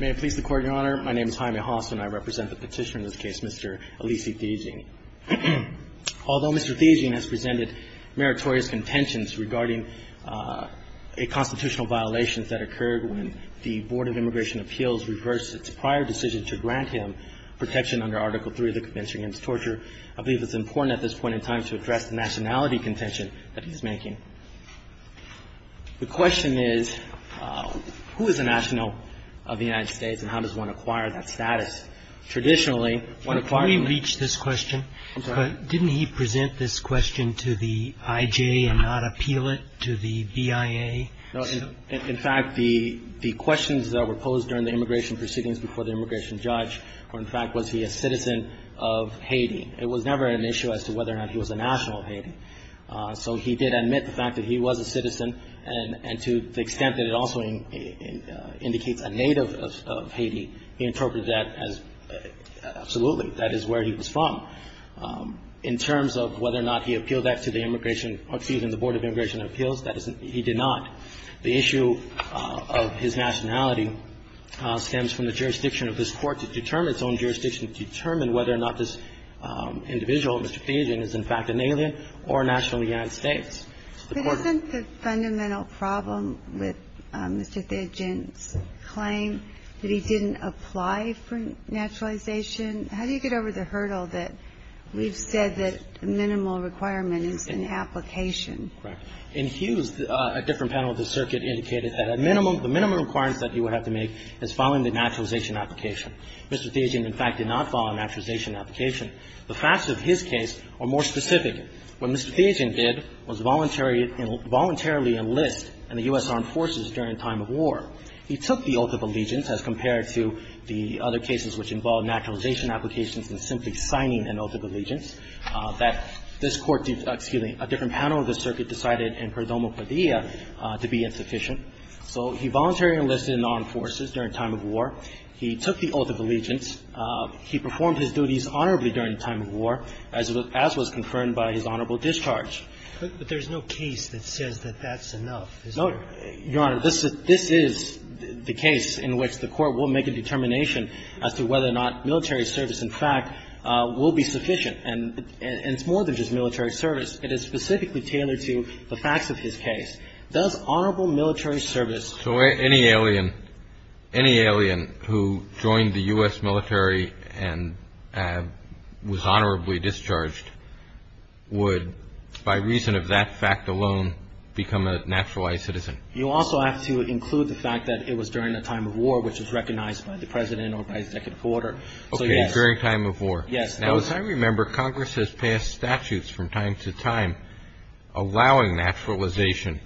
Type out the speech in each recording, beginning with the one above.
May it please the Court, Your Honor. My name is Jaime Haas and I represent the petitioner in this case, Mr. Alici Theagene. Although Mr. Theagene has presented meritorious contentions regarding a constitutional violation that occurred when the Board of Immigration Appeals reversed its prior decision to grant him protection under Article III of the Convention Against Torture, I believe it's important at this point to note that he was a citizen of the United States, and how does one acquire that status? Traditionally, one requires Can we reach this question? I'm sorry. Didn't he present this question to the IJ and not appeal it to the BIA? No. In fact, the questions that were posed during the immigration proceedings before the immigration judge were, in fact, was he a citizen of Haiti? It was never an issue as to whether or not he was a national of Haiti. So he did admit the fact that he was a citizen, and to the extent that it also indicates a native of Haiti, he interpreted that as absolutely, that is where he was from. In terms of whether or not he appealed that to the immigration or to even the Board of Immigration Appeals, that is, he did not. The issue of his nationality stems from the jurisdiction of this Court to determine its own jurisdiction, to determine whether or not this individual, Mr. Theagene, is in fact an alien or a national of the United States. But isn't the fundamental problem with Mr. Theagene's claim that he didn't apply for naturalization, how do you get over the hurdle that we've said that the minimal requirement is an application? Correct. In Hughes, a different panel of the circuit indicated that a minimum, the minimum requirements that he would have to make is following the naturalization application. Mr. Theagene, in fact, did not follow a naturalization application. The facts of his case are more specific. What Mr. Theagene did was voluntarily enlist in the U.S. Armed Forces during a time of war. He took the oath of allegiance as compared to the other cases which involved naturalization applications and simply signing an oath of allegiance, that this Court did, excuse me, a different panel of the circuit decided in Prodomo Cordea to be insufficient. So he voluntarily enlisted in the Armed Forces during a time of war. He took the oath of allegiance. He performed his duties honorably during a time of war, as was confirmed by his honorable discharge. But there's no case that says that that's enough, is there? No, Your Honor. This is the case in which the Court will make a determination as to whether or not military service, in fact, will be sufficient. And it's more than just military service. It is specifically tailored to the facts of his case. Does honorable military service ---- So any alien, any alien who joined the U.S. military and was honorably discharged would, by reason of that fact alone, become a naturalized citizen? You also have to include the fact that it was during a time of war, which is recognized by the President or by his executive order. Okay, during a time of war. Yes. Now, as I remember, Congress has passed statutes from time to time allowing naturalization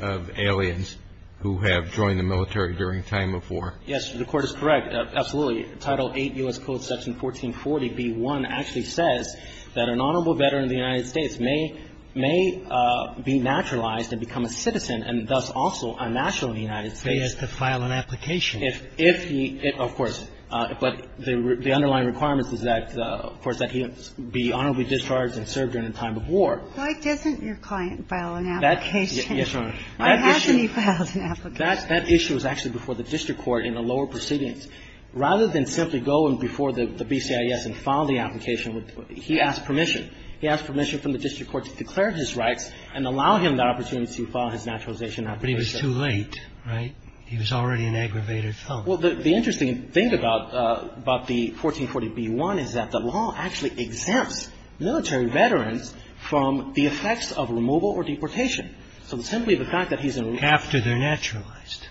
of aliens who have joined the military during a time of war. Yes, Your Honor. The Court is correct, absolutely. Title VIII U.S. Code, Section 1440b1 actually says that an honorable veteran of the United States may be naturalized and become a citizen and thus also a national in the United States. They have to file an application. If he ---- of course. But the underlying requirement is that, of course, that he be honorably discharged and served during a time of war. Why doesn't your client file an application? Yes, Your Honor. Why hasn't he filed an application? That issue was actually before the district court in a lower proceedings. Rather than simply go in before the BCIS and file the application, he asked permission. He asked permission from the district court to declare his rights and allow him the opportunity to file his naturalization application. But he was too late, right? He was already an aggravated felon. Well, the interesting thing about the 1440b1 is that the law actually exempts military veterans from the effects of removal or deportation. So simply the fact that he's in removal ---- After they're naturalized.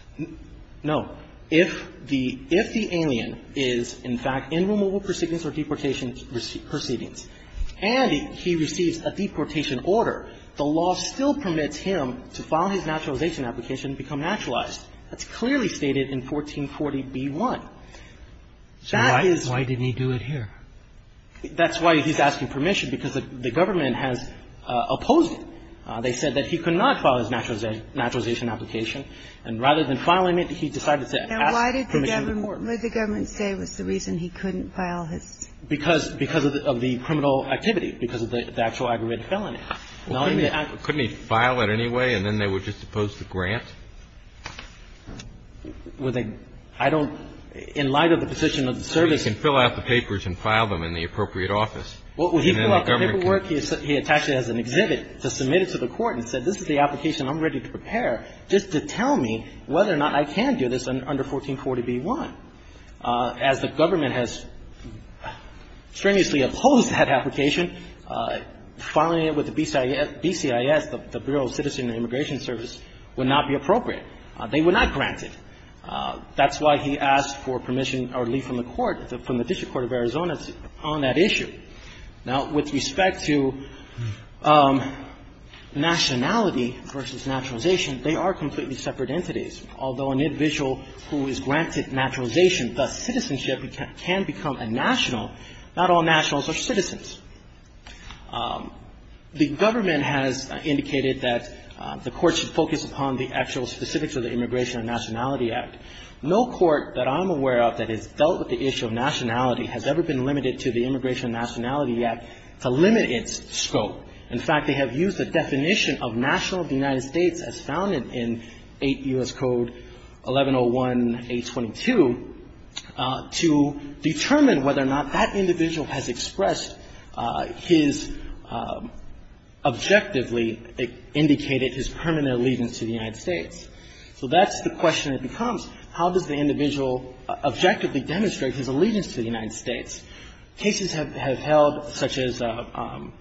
No. If the alien is, in fact, in removal proceedings or deportation proceedings and he receives a deportation order, the law still permits him to file his naturalization application and become naturalized. That's clearly stated in 1440b1. That is ---- So why didn't he do it here? That's why he's asking permission, because the government has opposed it. They said that he could not file his naturalization application. And rather than filing it, he decided to ask permission. And why did the government say it was the reason he couldn't file his? Because of the criminal activity, because of the actual aggravated felony. Well, couldn't he file it anyway and then they were just supposed to grant? Well, they ---- I don't ---- in light of the position of the service ---- Well, he could fill out the papers and file them in the appropriate office. And then the government could ---- Well, he filled out the paperwork. He attached it as an exhibit to submit it to the Court and said this is the application I'm ready to prepare just to tell me whether or not I can do this under 1440b1. As the government has strenuously opposed that application, filing it with the BCIS, the Bureau of Citizen and Immigration Service, would not be appropriate. They would not grant it. That's why he asked for permission or leave from the court, from the district court of Arizona, on that issue. Now, with respect to nationality versus naturalization, they are completely separate entities. Although an individual who is granted naturalization, thus citizenship, can become a national, not all nationals are citizens. The government has indicated that the Court should focus upon the actual specifics of the Immigration and Nationality Act. No court that I'm aware of that has dealt with the issue of nationality has ever been limited to the Immigration and Nationality Act to limit its scope. In fact, they have used the definition of national of the United States as founded in 8 U.S. Code 1101-822 to determine whether or not that individual has expressed his objectively indicated his permanent allegiance to the United States. So that's the question that becomes, how does the individual objectively demonstrate his allegiance to the United States? Cases have held, such as in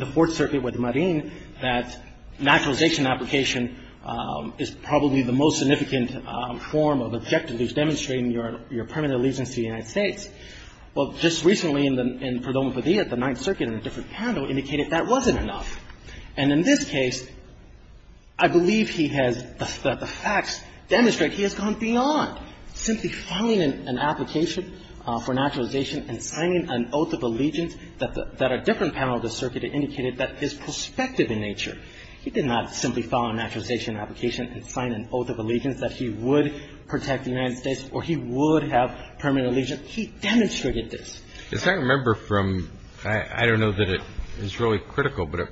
the Fourth Circuit with Marin, that naturalization application is probably the most significant form of objectively demonstrating your permanent allegiance to the United States. Well, just recently in the, in Perdomo Padilla, the Ninth Circuit in a different panel indicated that wasn't enough. And in this case, I believe he has, that the facts demonstrate he has gone beyond simply filing an application for naturalization and signing an oath of allegiance that the, that a different panel of the circuit indicated that is prospective in nature. He did not simply file a naturalization application and sign an oath of allegiance that he would protect the United States or he would have permanent allegiance. He demonstrated this. As I remember from, I don't know that it is really critical, but I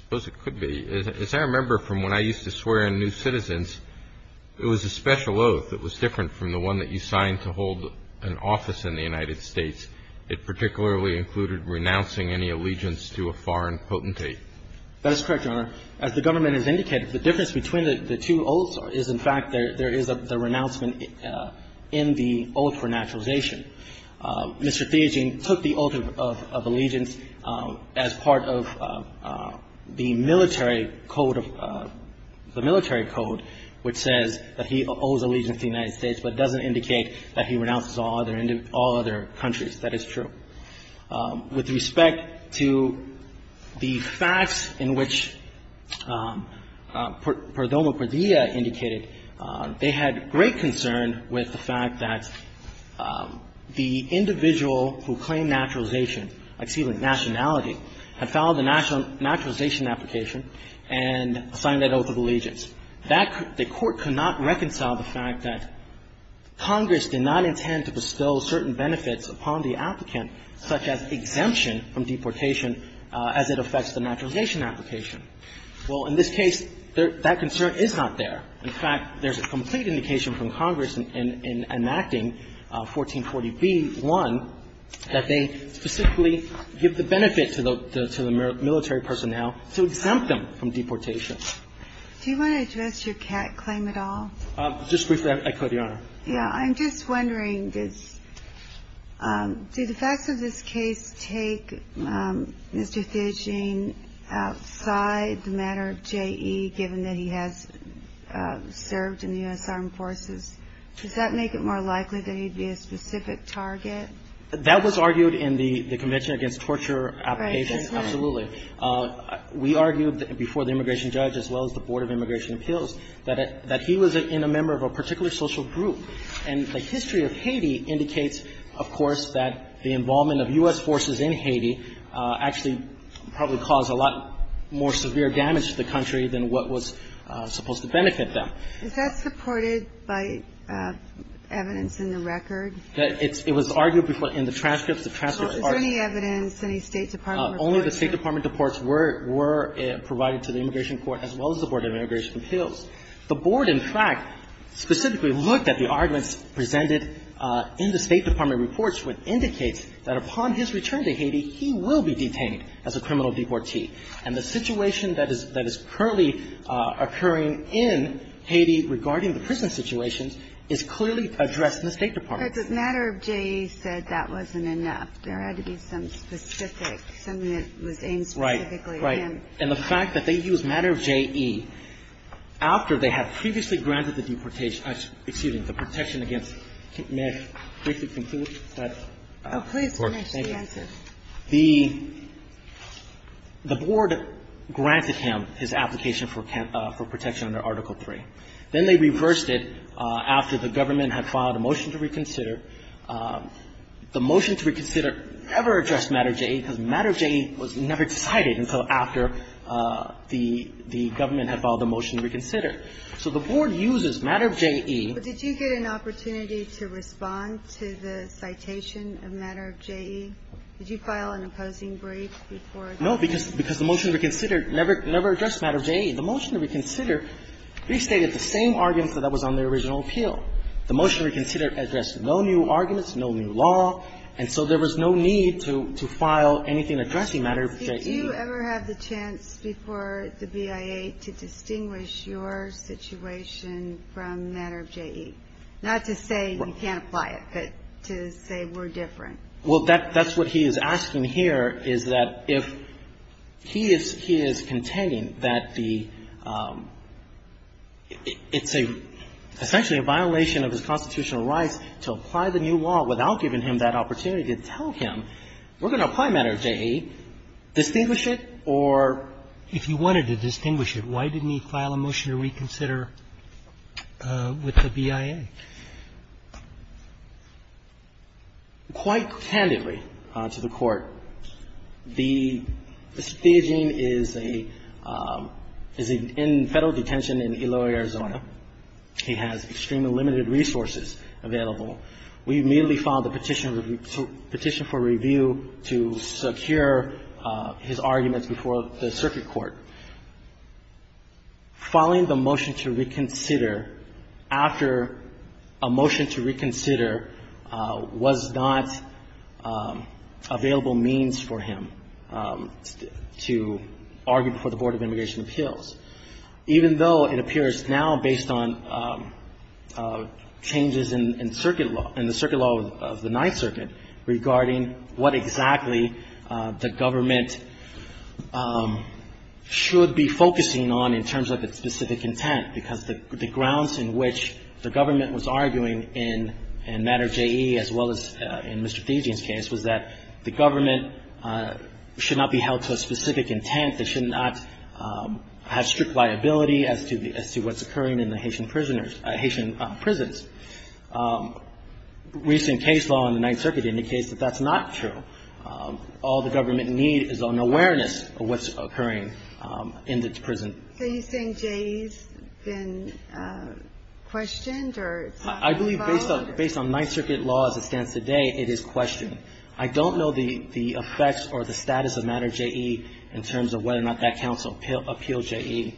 suppose it could be. As I remember from when I used to swear in New Citizens, it was a special oath that was different from the one that you signed to hold an office in the United States. It particularly included renouncing any allegiance to a foreign potentate. That is correct, Your Honor. As the government has indicated, the difference between the two oaths is, in fact, there is a renouncement in the oath for naturalization. Mr. Theogene took the oath of allegiance as part of the military code of, the military code which says that he owes allegiance to the United States but doesn't indicate that he renounces all other, all other countries. That is true. With respect to the facts in which Perdomo-Perdia indicated, they had great concern with the fact that the individual who claimed naturalization, excuse me, nationality, had filed a naturalization application and signed that oath of allegiance. That, the Court could not reconcile the fact that Congress did not intend to bestow certain benefits upon the applicant, such as exemption from deportation as it affects the naturalization application. Well, in this case, that concern is not there. In fact, there's a complete indication from Congress in enacting 1440b-1 that they specifically give the benefit to the military personnel to exempt them from deportation. Do you want to address your cat claim at all? Just briefly, I could, Your Honor. Yeah. I'm just wondering, does, do the facts of this case take Mr. Fijian outside the matter of J.E., given that he has served in the U.S. Armed Forces? Does that make it more likely that he'd be a specific target? That was argued in the Convention Against Torture Applications. Right. Absolutely. We argued before the immigration judge as well as the Board of Immigration And the history of Haiti indicates, of course, that the involvement of U.S. forces in Haiti actually probably caused a lot more severe damage to the country than what was supposed to benefit them. Is that supported by evidence in the record? It's, it was argued before in the transcripts. The transcripts are Is there any evidence, any State Department reports? Only the State Department reports were, were provided to the immigration court as well as the Board of Immigration Appeals. The Board, in fact, specifically looked at the arguments presented in the State Department reports, which indicates that upon his return to Haiti, he will be detained as a criminal deportee. And the situation that is, that is currently occurring in Haiti regarding the prison situations is clearly addressed in the State Department. But the matter of J.E. said that wasn't enough. There had to be some specific, something that was aimed specifically at him. Right, right. And the fact that they used matter of J.E. after they had previously granted the deportation, excuse me, the protection against, may I briefly conclude? Oh, please finish. Thank you. The Board granted him his application for protection under Article III. Then they reversed it after the government had filed a motion to reconsider. The motion to reconsider never addressed matter of J.E. because matter of J.E. was never cited until after the government had filed a motion to reconsider. So the Board uses matter of J.E. But did you get an opportunity to respond to the citation of matter of J.E.? Did you file an opposing brief before that? No, because the motion to reconsider never addressed matter of J.E. The motion to reconsider restated the same arguments that was on the original appeal. The motion to reconsider addressed no new arguments, no new law, and so there was no need to file anything addressing matter of J.E. Do you ever have the chance before the BIA to distinguish your situation from matter of J.E.? Not to say you can't apply it, but to say we're different. Well, that's what he is asking here is that if he is contending that the – it's essentially a violation of his constitutional rights to apply the new law without giving him that opportunity to tell him we're going to apply matter of J.E., distinguish it or – If you wanted to distinguish it, why didn't he file a motion to reconsider with the BIA? Quite candidly to the Court, the – Mr. Theogene is a – is in Federal detention in Eloy, Arizona. He has extremely limited resources available. We immediately filed a petition for review to secure his arguments before the circuit court. Filing the motion to reconsider after a motion to reconsider was not available means for him to argue before the Board of Immigration Appeals. Even though it appears now, based on changes in circuit law – in the circuit law of the Ninth Circuit regarding what exactly the government should be focusing on in terms of its specific intent, because the grounds in which the government was arguing in matter of J.E., as well as in Mr. Theogene's case, was that the government should not be held to a specific intent. They should not have strict liability as to what's occurring in the Haitian prisoners – Haitian prisons. Recent case law in the Ninth Circuit indicates that that's not true. All the government need is an awareness of what's occurring in the prison. So you're saying J.E.'s been questioned or – I believe based on Ninth Circuit law as it stands today, it is questioned. I don't know the effects or the status of matter of J.E. in terms of whether or not that counsel appealed J.E.,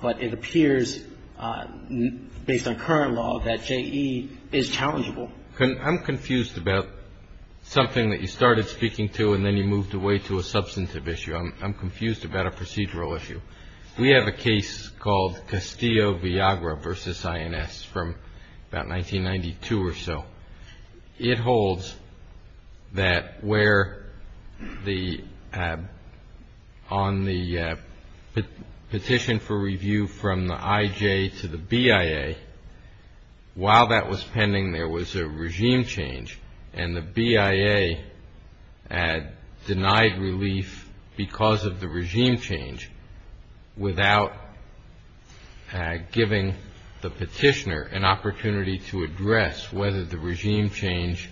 but it appears based on current law that J.E. is challengeable. I'm confused about something that you started speaking to and then you moved away to a substantive issue. I'm confused about a procedural issue. We have a case called Castillo-Viagra v. INS from about 1992 or so. It holds that where on the petition for review from the IJ to the BIA, while that was pending, there was a regime change, and the BIA had denied relief because of the regime change without giving the petitioner an opportunity to address whether the regime change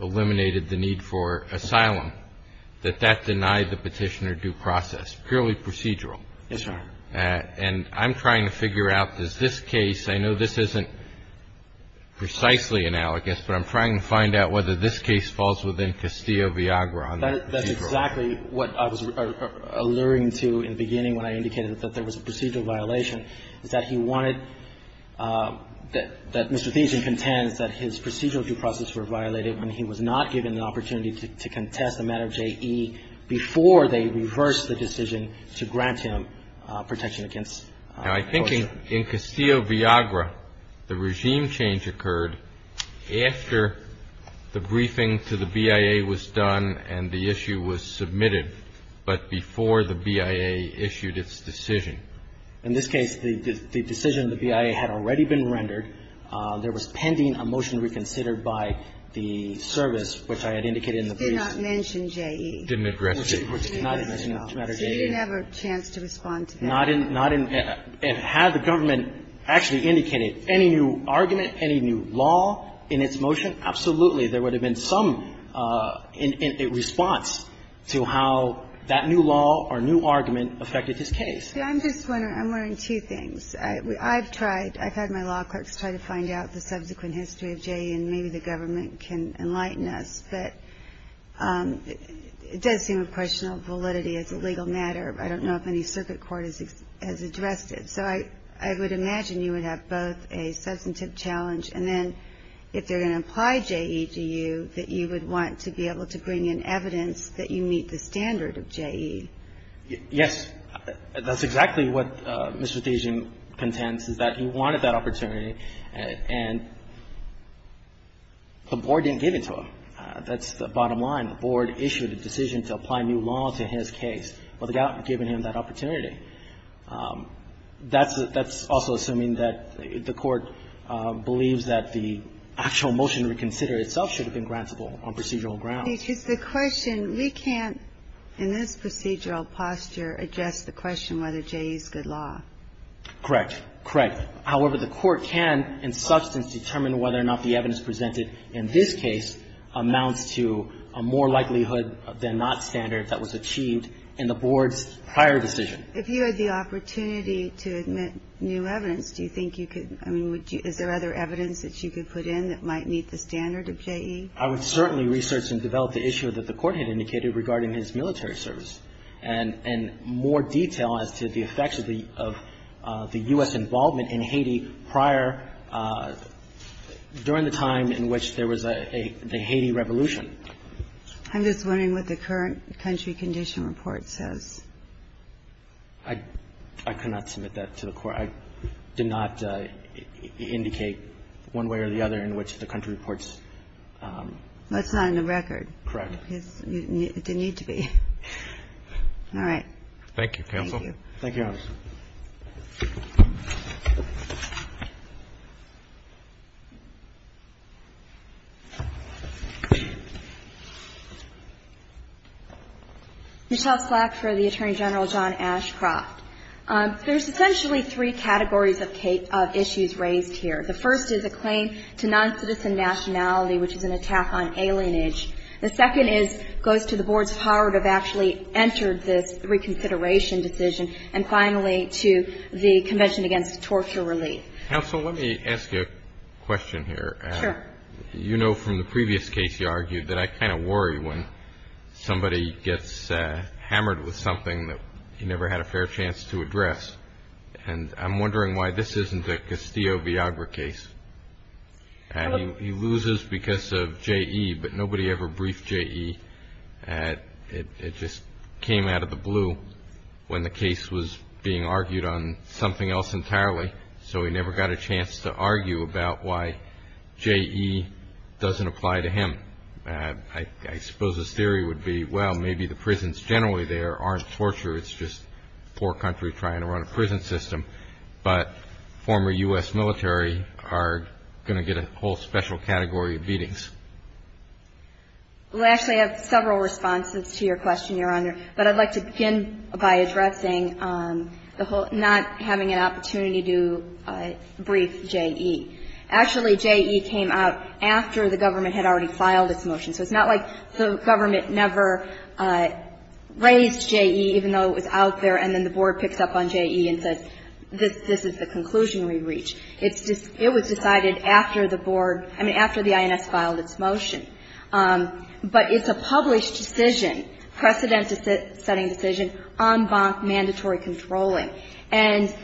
eliminated the need for asylum, that that denied the petitioner due process. Purely procedural. Yes, Your Honor. And I'm trying to figure out, does this case – I know this isn't precisely analogous, but I'm trying to find out whether this case falls within Castillo-Viagra on that procedural issue. Exactly what I was alluring to in the beginning when I indicated that there was a procedural violation is that he wanted – that Mr. Thiessen contends that his procedural due process were violated when he was not given an opportunity to contest the matter of J.E. before they reversed the decision to grant him protection against torture. Now, I think in Castillo-Viagra, the regime change occurred after the briefing to the BIA was done and the issue was submitted, but before the BIA issued its decision. In this case, the decision of the BIA had already been rendered. There was pending a motion reconsidered by the service, which I had indicated in the brief. It did not mention J.E. It didn't address it. It did not mention the matter of J.E. So you didn't have a chance to respond to that. Not in – and had the government actually indicated any new argument, any new law in its motion, absolutely, there would have been some response to how that new law or new argument affected this case. I'm just wondering – I'm wondering two things. I've tried – I've had my law clerks try to find out the subsequent history of J.E. and maybe the government can enlighten us, but it does seem a question of validity as a legal matter. I don't know if any circuit court has addressed it. So I would imagine you would have both a substantive challenge and then if there was going to apply J.E. to you, that you would want to be able to bring in evidence that you meet the standard of J.E. Yes. That's exactly what Mr. Thijen contends, is that he wanted that opportunity and the board didn't give it to him. That's the bottom line. The board issued a decision to apply new law to his case without giving him that opportunity. That's also assuming that the court believes that the actual motion to reconsider itself should have been grantable on procedural grounds. The question, we can't in this procedural posture address the question whether J.E. is good law. Correct. Correct. However, the court can in substance determine whether or not the evidence presented in this case amounts to a more likelihood than not standard that was achieved in the board's prior decision. If you had the opportunity to admit new evidence, do you think you could, I mean, is there other evidence that you could put in that might meet the standard of J.E.? I would certainly research and develop the issue that the court had indicated regarding his military service and more detail as to the effects of the U.S. involvement in Haiti prior, during the time in which there was the Haiti revolution. I'm just wondering what the current country condition report says. I cannot submit that to the court. I did not indicate one way or the other in which the country reports. That's not in the record. Correct. It didn't need to be. Thank you, counsel. Thank you. Thank you, Your Honor. Michelle Slack for the Attorney General, John Ashcroft. There's essentially three categories of issues raised here. The first is a claim to non-citizen nationality, which is an attack on alienage. The second goes to the board's power to have actually entered this reconsideration decision. And finally, to the Convention Against Torture Relief. Counsel, let me ask you a question here. Sure. You know from the previous case you argued that I kind of worry when somebody gets hammered with something that he never had a fair chance to address. And I'm wondering why this isn't a Castillo-Viagra case. He loses because of J.E., but nobody ever briefed J.E. It just came out of the blue when the case was being argued on something else entirely. So he never got a chance to argue about why J.E. doesn't apply to him. I suppose his theory would be, well, maybe the prisons generally there aren't torture. It's just poor country trying to run a prison system. But former U.S. military are going to get a whole special category of beatings. Well, actually, I have several responses to your question, Your Honor. But I'd like to begin by addressing the whole not having an opportunity to brief J.E. Actually, J.E. came out after the government had already filed its motion. So it's not like the government never raised J.E., even though it was out there, and then the board picks up on J.E. and says, this is the conclusion we've reached. It was decided after the board, I mean, after the INS filed its motion. But it's a published decision, precedent-setting decision, en banc, mandatory controlling. And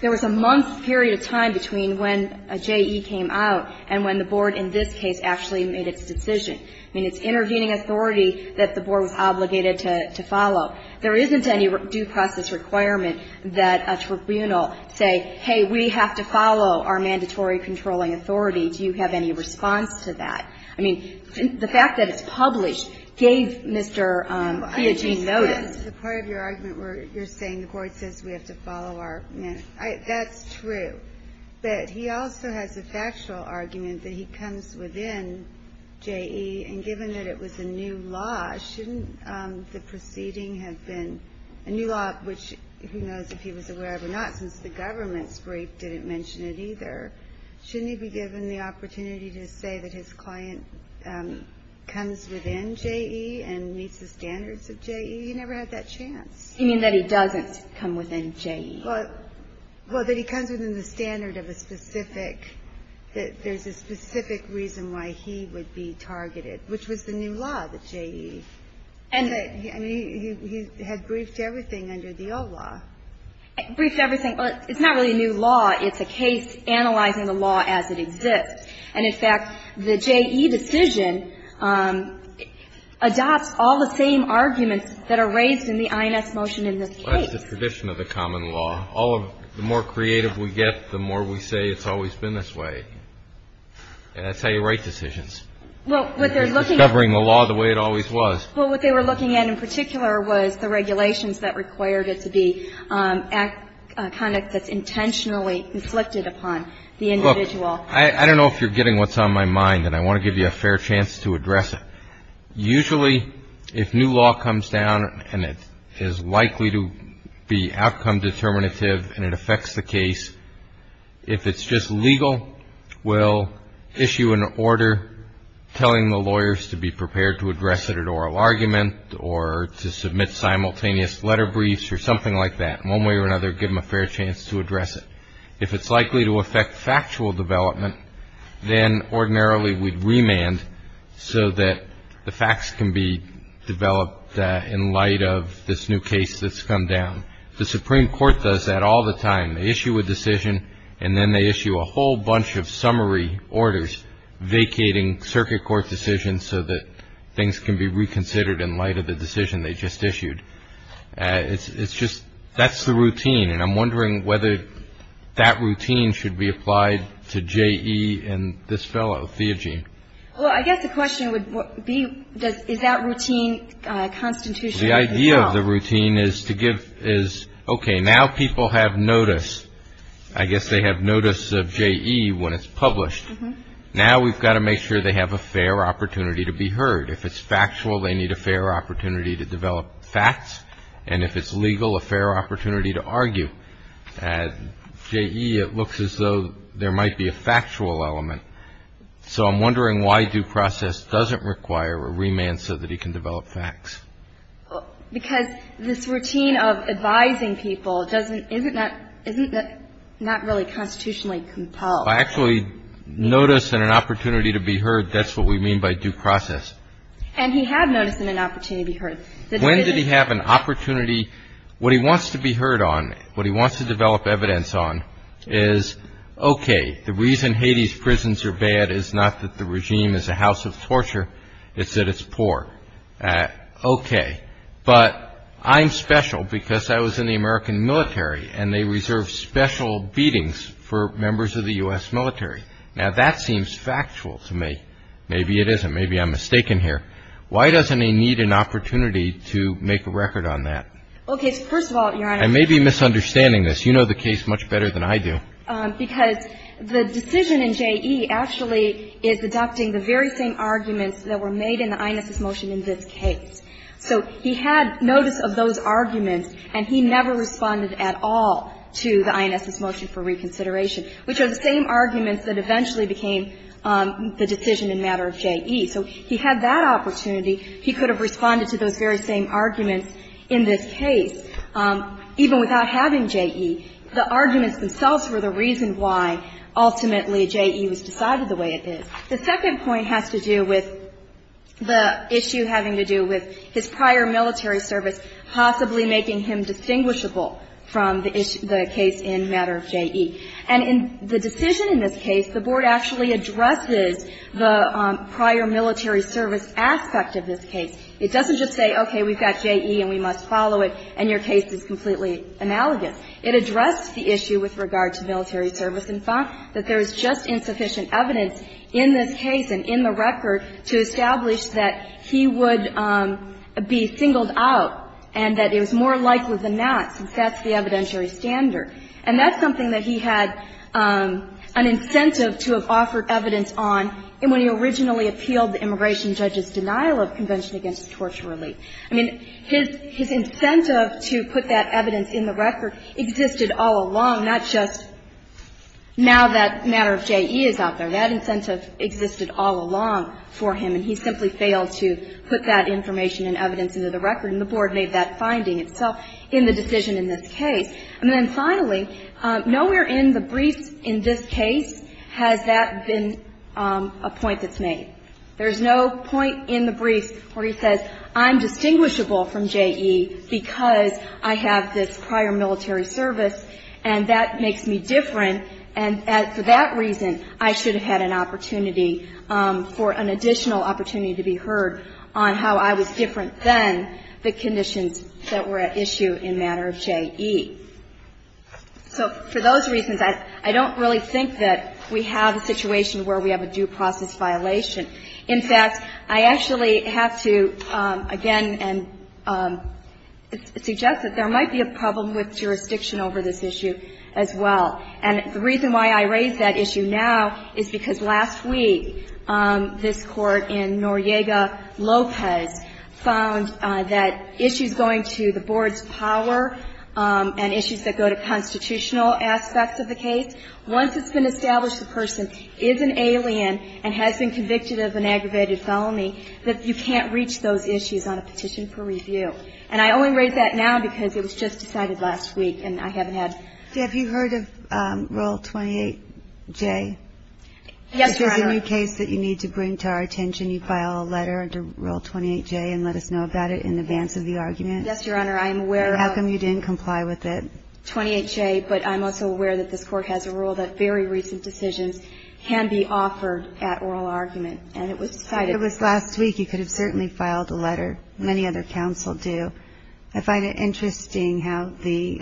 there was a month's period of time between when J.E. came out and when the board in this case actually made its decision. I mean, it's intervening authority that the board was obligated to follow. There isn't any due process requirement that a tribunal say, hey, we have to follow our mandatory controlling authority. Do you have any response to that? I mean, the fact that it's published gave Mr. Piagin notice. The part of your argument where you're saying the board says we have to follow our mandate, that's true. But he also has a factual argument that he comes within J.E. And given that it was a new law, shouldn't the proceeding have been a new law, which who knows if he was aware of it or not, since the government's brief didn't mention it either. Shouldn't he be given the opportunity to say that his client comes within J.E. and meets the standards of J.E.? He never had that chance. You mean that he doesn't come within J.E.? Well, that he comes within the standard of a specific, that there's a specific reason why he would be targeted, which was the new law, the J.E. And he had briefed everything under the old law. Briefed everything. Well, it's not really a new law. It's a case analyzing the law as it exists. And, in fact, the J.E. decision adopts all the same arguments that are raised in the INX motion in this case. Well, it's the tradition of the common law. All of the more creative we get, the more we say it's always been this way. And that's how you write decisions. Well, what they're looking at. Discovering the law the way it always was. Well, what they were looking at in particular was the regulations that required it to be conduct that's intentionally inflicted upon the individual. Look, I don't know if you're getting what's on my mind, and I want to give you a fair chance to address it. Usually, if new law comes down and it is likely to be outcome determinative and it affects the case, if it's just legal, we'll issue an order telling the lawyers to be prepared to address it at oral argument or to submit simultaneous letter briefs or something like that. One way or another, give them a fair chance to address it. If it's likely to affect factual development, then ordinarily we'd remand so that the facts can be developed in light of this new case that's come down. The Supreme Court does that all the time. They issue a decision, and then they issue a whole bunch of summary orders vacating circuit court decisions so that things can be reconsidered in light of the decision they just issued. It's just that's the routine, and I'm wondering whether that routine should be applied to J.E. and this fellow, Theogene. Well, I guess the question would be, is that routine constitutional as well? The idea of the routine is to give, is, okay, now people have notice. I guess they have notice of J.E. when it's published. Now we've got to make sure they have a fair opportunity to be heard. If it's factual, they need a fair opportunity to develop facts. And if it's legal, a fair opportunity to argue. At J.E., it looks as though there might be a factual element. So I'm wondering why due process doesn't require a remand so that he can develop facts. Because this routine of advising people doesn't, isn't that, isn't that not really constitutionally compelled? Well, actually, notice and an opportunity to be heard, that's what we mean by due process. And he had notice and an opportunity to be heard. When did he have an opportunity? What he wants to be heard on, what he wants to develop evidence on, is, okay, the reason Haiti's prisons are bad is not that the regime is a house of torture, it's that it's poor. Okay. But I'm special because I was in the American military, and they reserve special beatings for members of the U.S. military. Now, that seems factual to me. Maybe it isn't. Maybe I'm mistaken here. Why doesn't he need an opportunity to make a record on that? Okay. So first of all, Your Honor. I may be misunderstanding this. You know the case much better than I do. Because the decision in J.E. actually is adopting the very same arguments that were made in the Inez's motion in this case. So he had notice of those arguments, and he never responded at all to the Inez's motion for reconsideration, which are the same arguments that eventually became the decision in matter of J.E. So he had that opportunity. He could have responded to those very same arguments in this case, even without having J.E. The arguments themselves were the reason why ultimately J.E. was decided the way it is. The second point has to do with the issue having to do with his prior military service possibly making him distinguishable from the case in matter of J.E. And in the decision in this case, the Board actually addresses the prior military service aspect of this case. It doesn't just say, okay, we've got J.E., and we must follow it, and your case is completely analogous. It addressed the issue with regard to military service. In fact, that there is just insufficient evidence in this case and in the record to establish that he would be singled out and that it was more likely than not, since that's the evidentiary standard. And that's something that he had an incentive to have offered evidence on when he originally appealed the immigration judge's denial of convention against torture relief. I mean, his incentive to put that evidence in the record existed all along, not just now that matter of J.E. is out there. That incentive existed all along for him, and he simply failed to put that information and evidence into the record, and the Board made that finding itself in the decision in this case. And then finally, nowhere in the briefs in this case has that been a point that's made. There's no point in the brief where he says I'm distinguishable from J.E. because I have this prior military service, and that makes me different, and for that reason, I should have had an opportunity for an additional opportunity to be heard on how I was different than the conditions that were at issue in matter of J.E. So for those reasons, I don't really think that we have a situation where we have a due process violation. In fact, I actually have to again suggest that there might be a problem with jurisdiction over this issue as well. And the reason why I raise that issue now is because last week this Court in Noriega Lopez found that issues going to the Board's power and issues that go to constitutional aspects of the case, once it's been established the person is an alien and has been convicted of an aggravated felony, that you can't reach those issues on a petition for review. And I only raise that now because it was just decided last week, and I haven't had to. Have you heard of Rule 28J? Yes, Your Honor. It's a new case that you need to bring to our attention. You file a letter under Rule 28J and let us know about it in advance of the argument. Yes, Your Honor. I'm aware of it. How come you didn't comply with it? 28J, but I'm also aware that this Court has a rule that very recent decisions can be offered at oral argument, and it was cited. It was last week. You could have certainly filed a letter. Many other counsel do. I find it interesting how the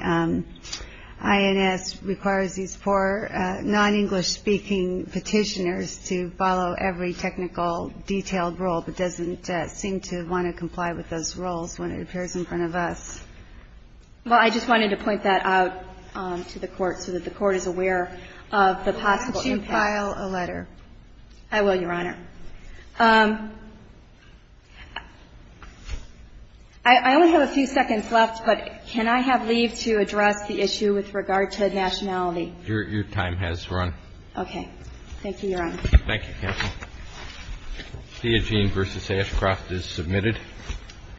INS requires these poor non-English-speaking petitioners to follow every technical, detailed rule, but doesn't seem to want to comply with those rules when it appears in front of us. Well, I just wanted to point that out to the Court so that the Court is aware of the possible impact. Could you file a letter? I will, Your Honor. I only have a few seconds left, but can I have leave to address the issue with regard to nationality? Your time has run. Okay. Thank you, Your Honor. Thank you, counsel. Theogene v. Ashcroft is submitted.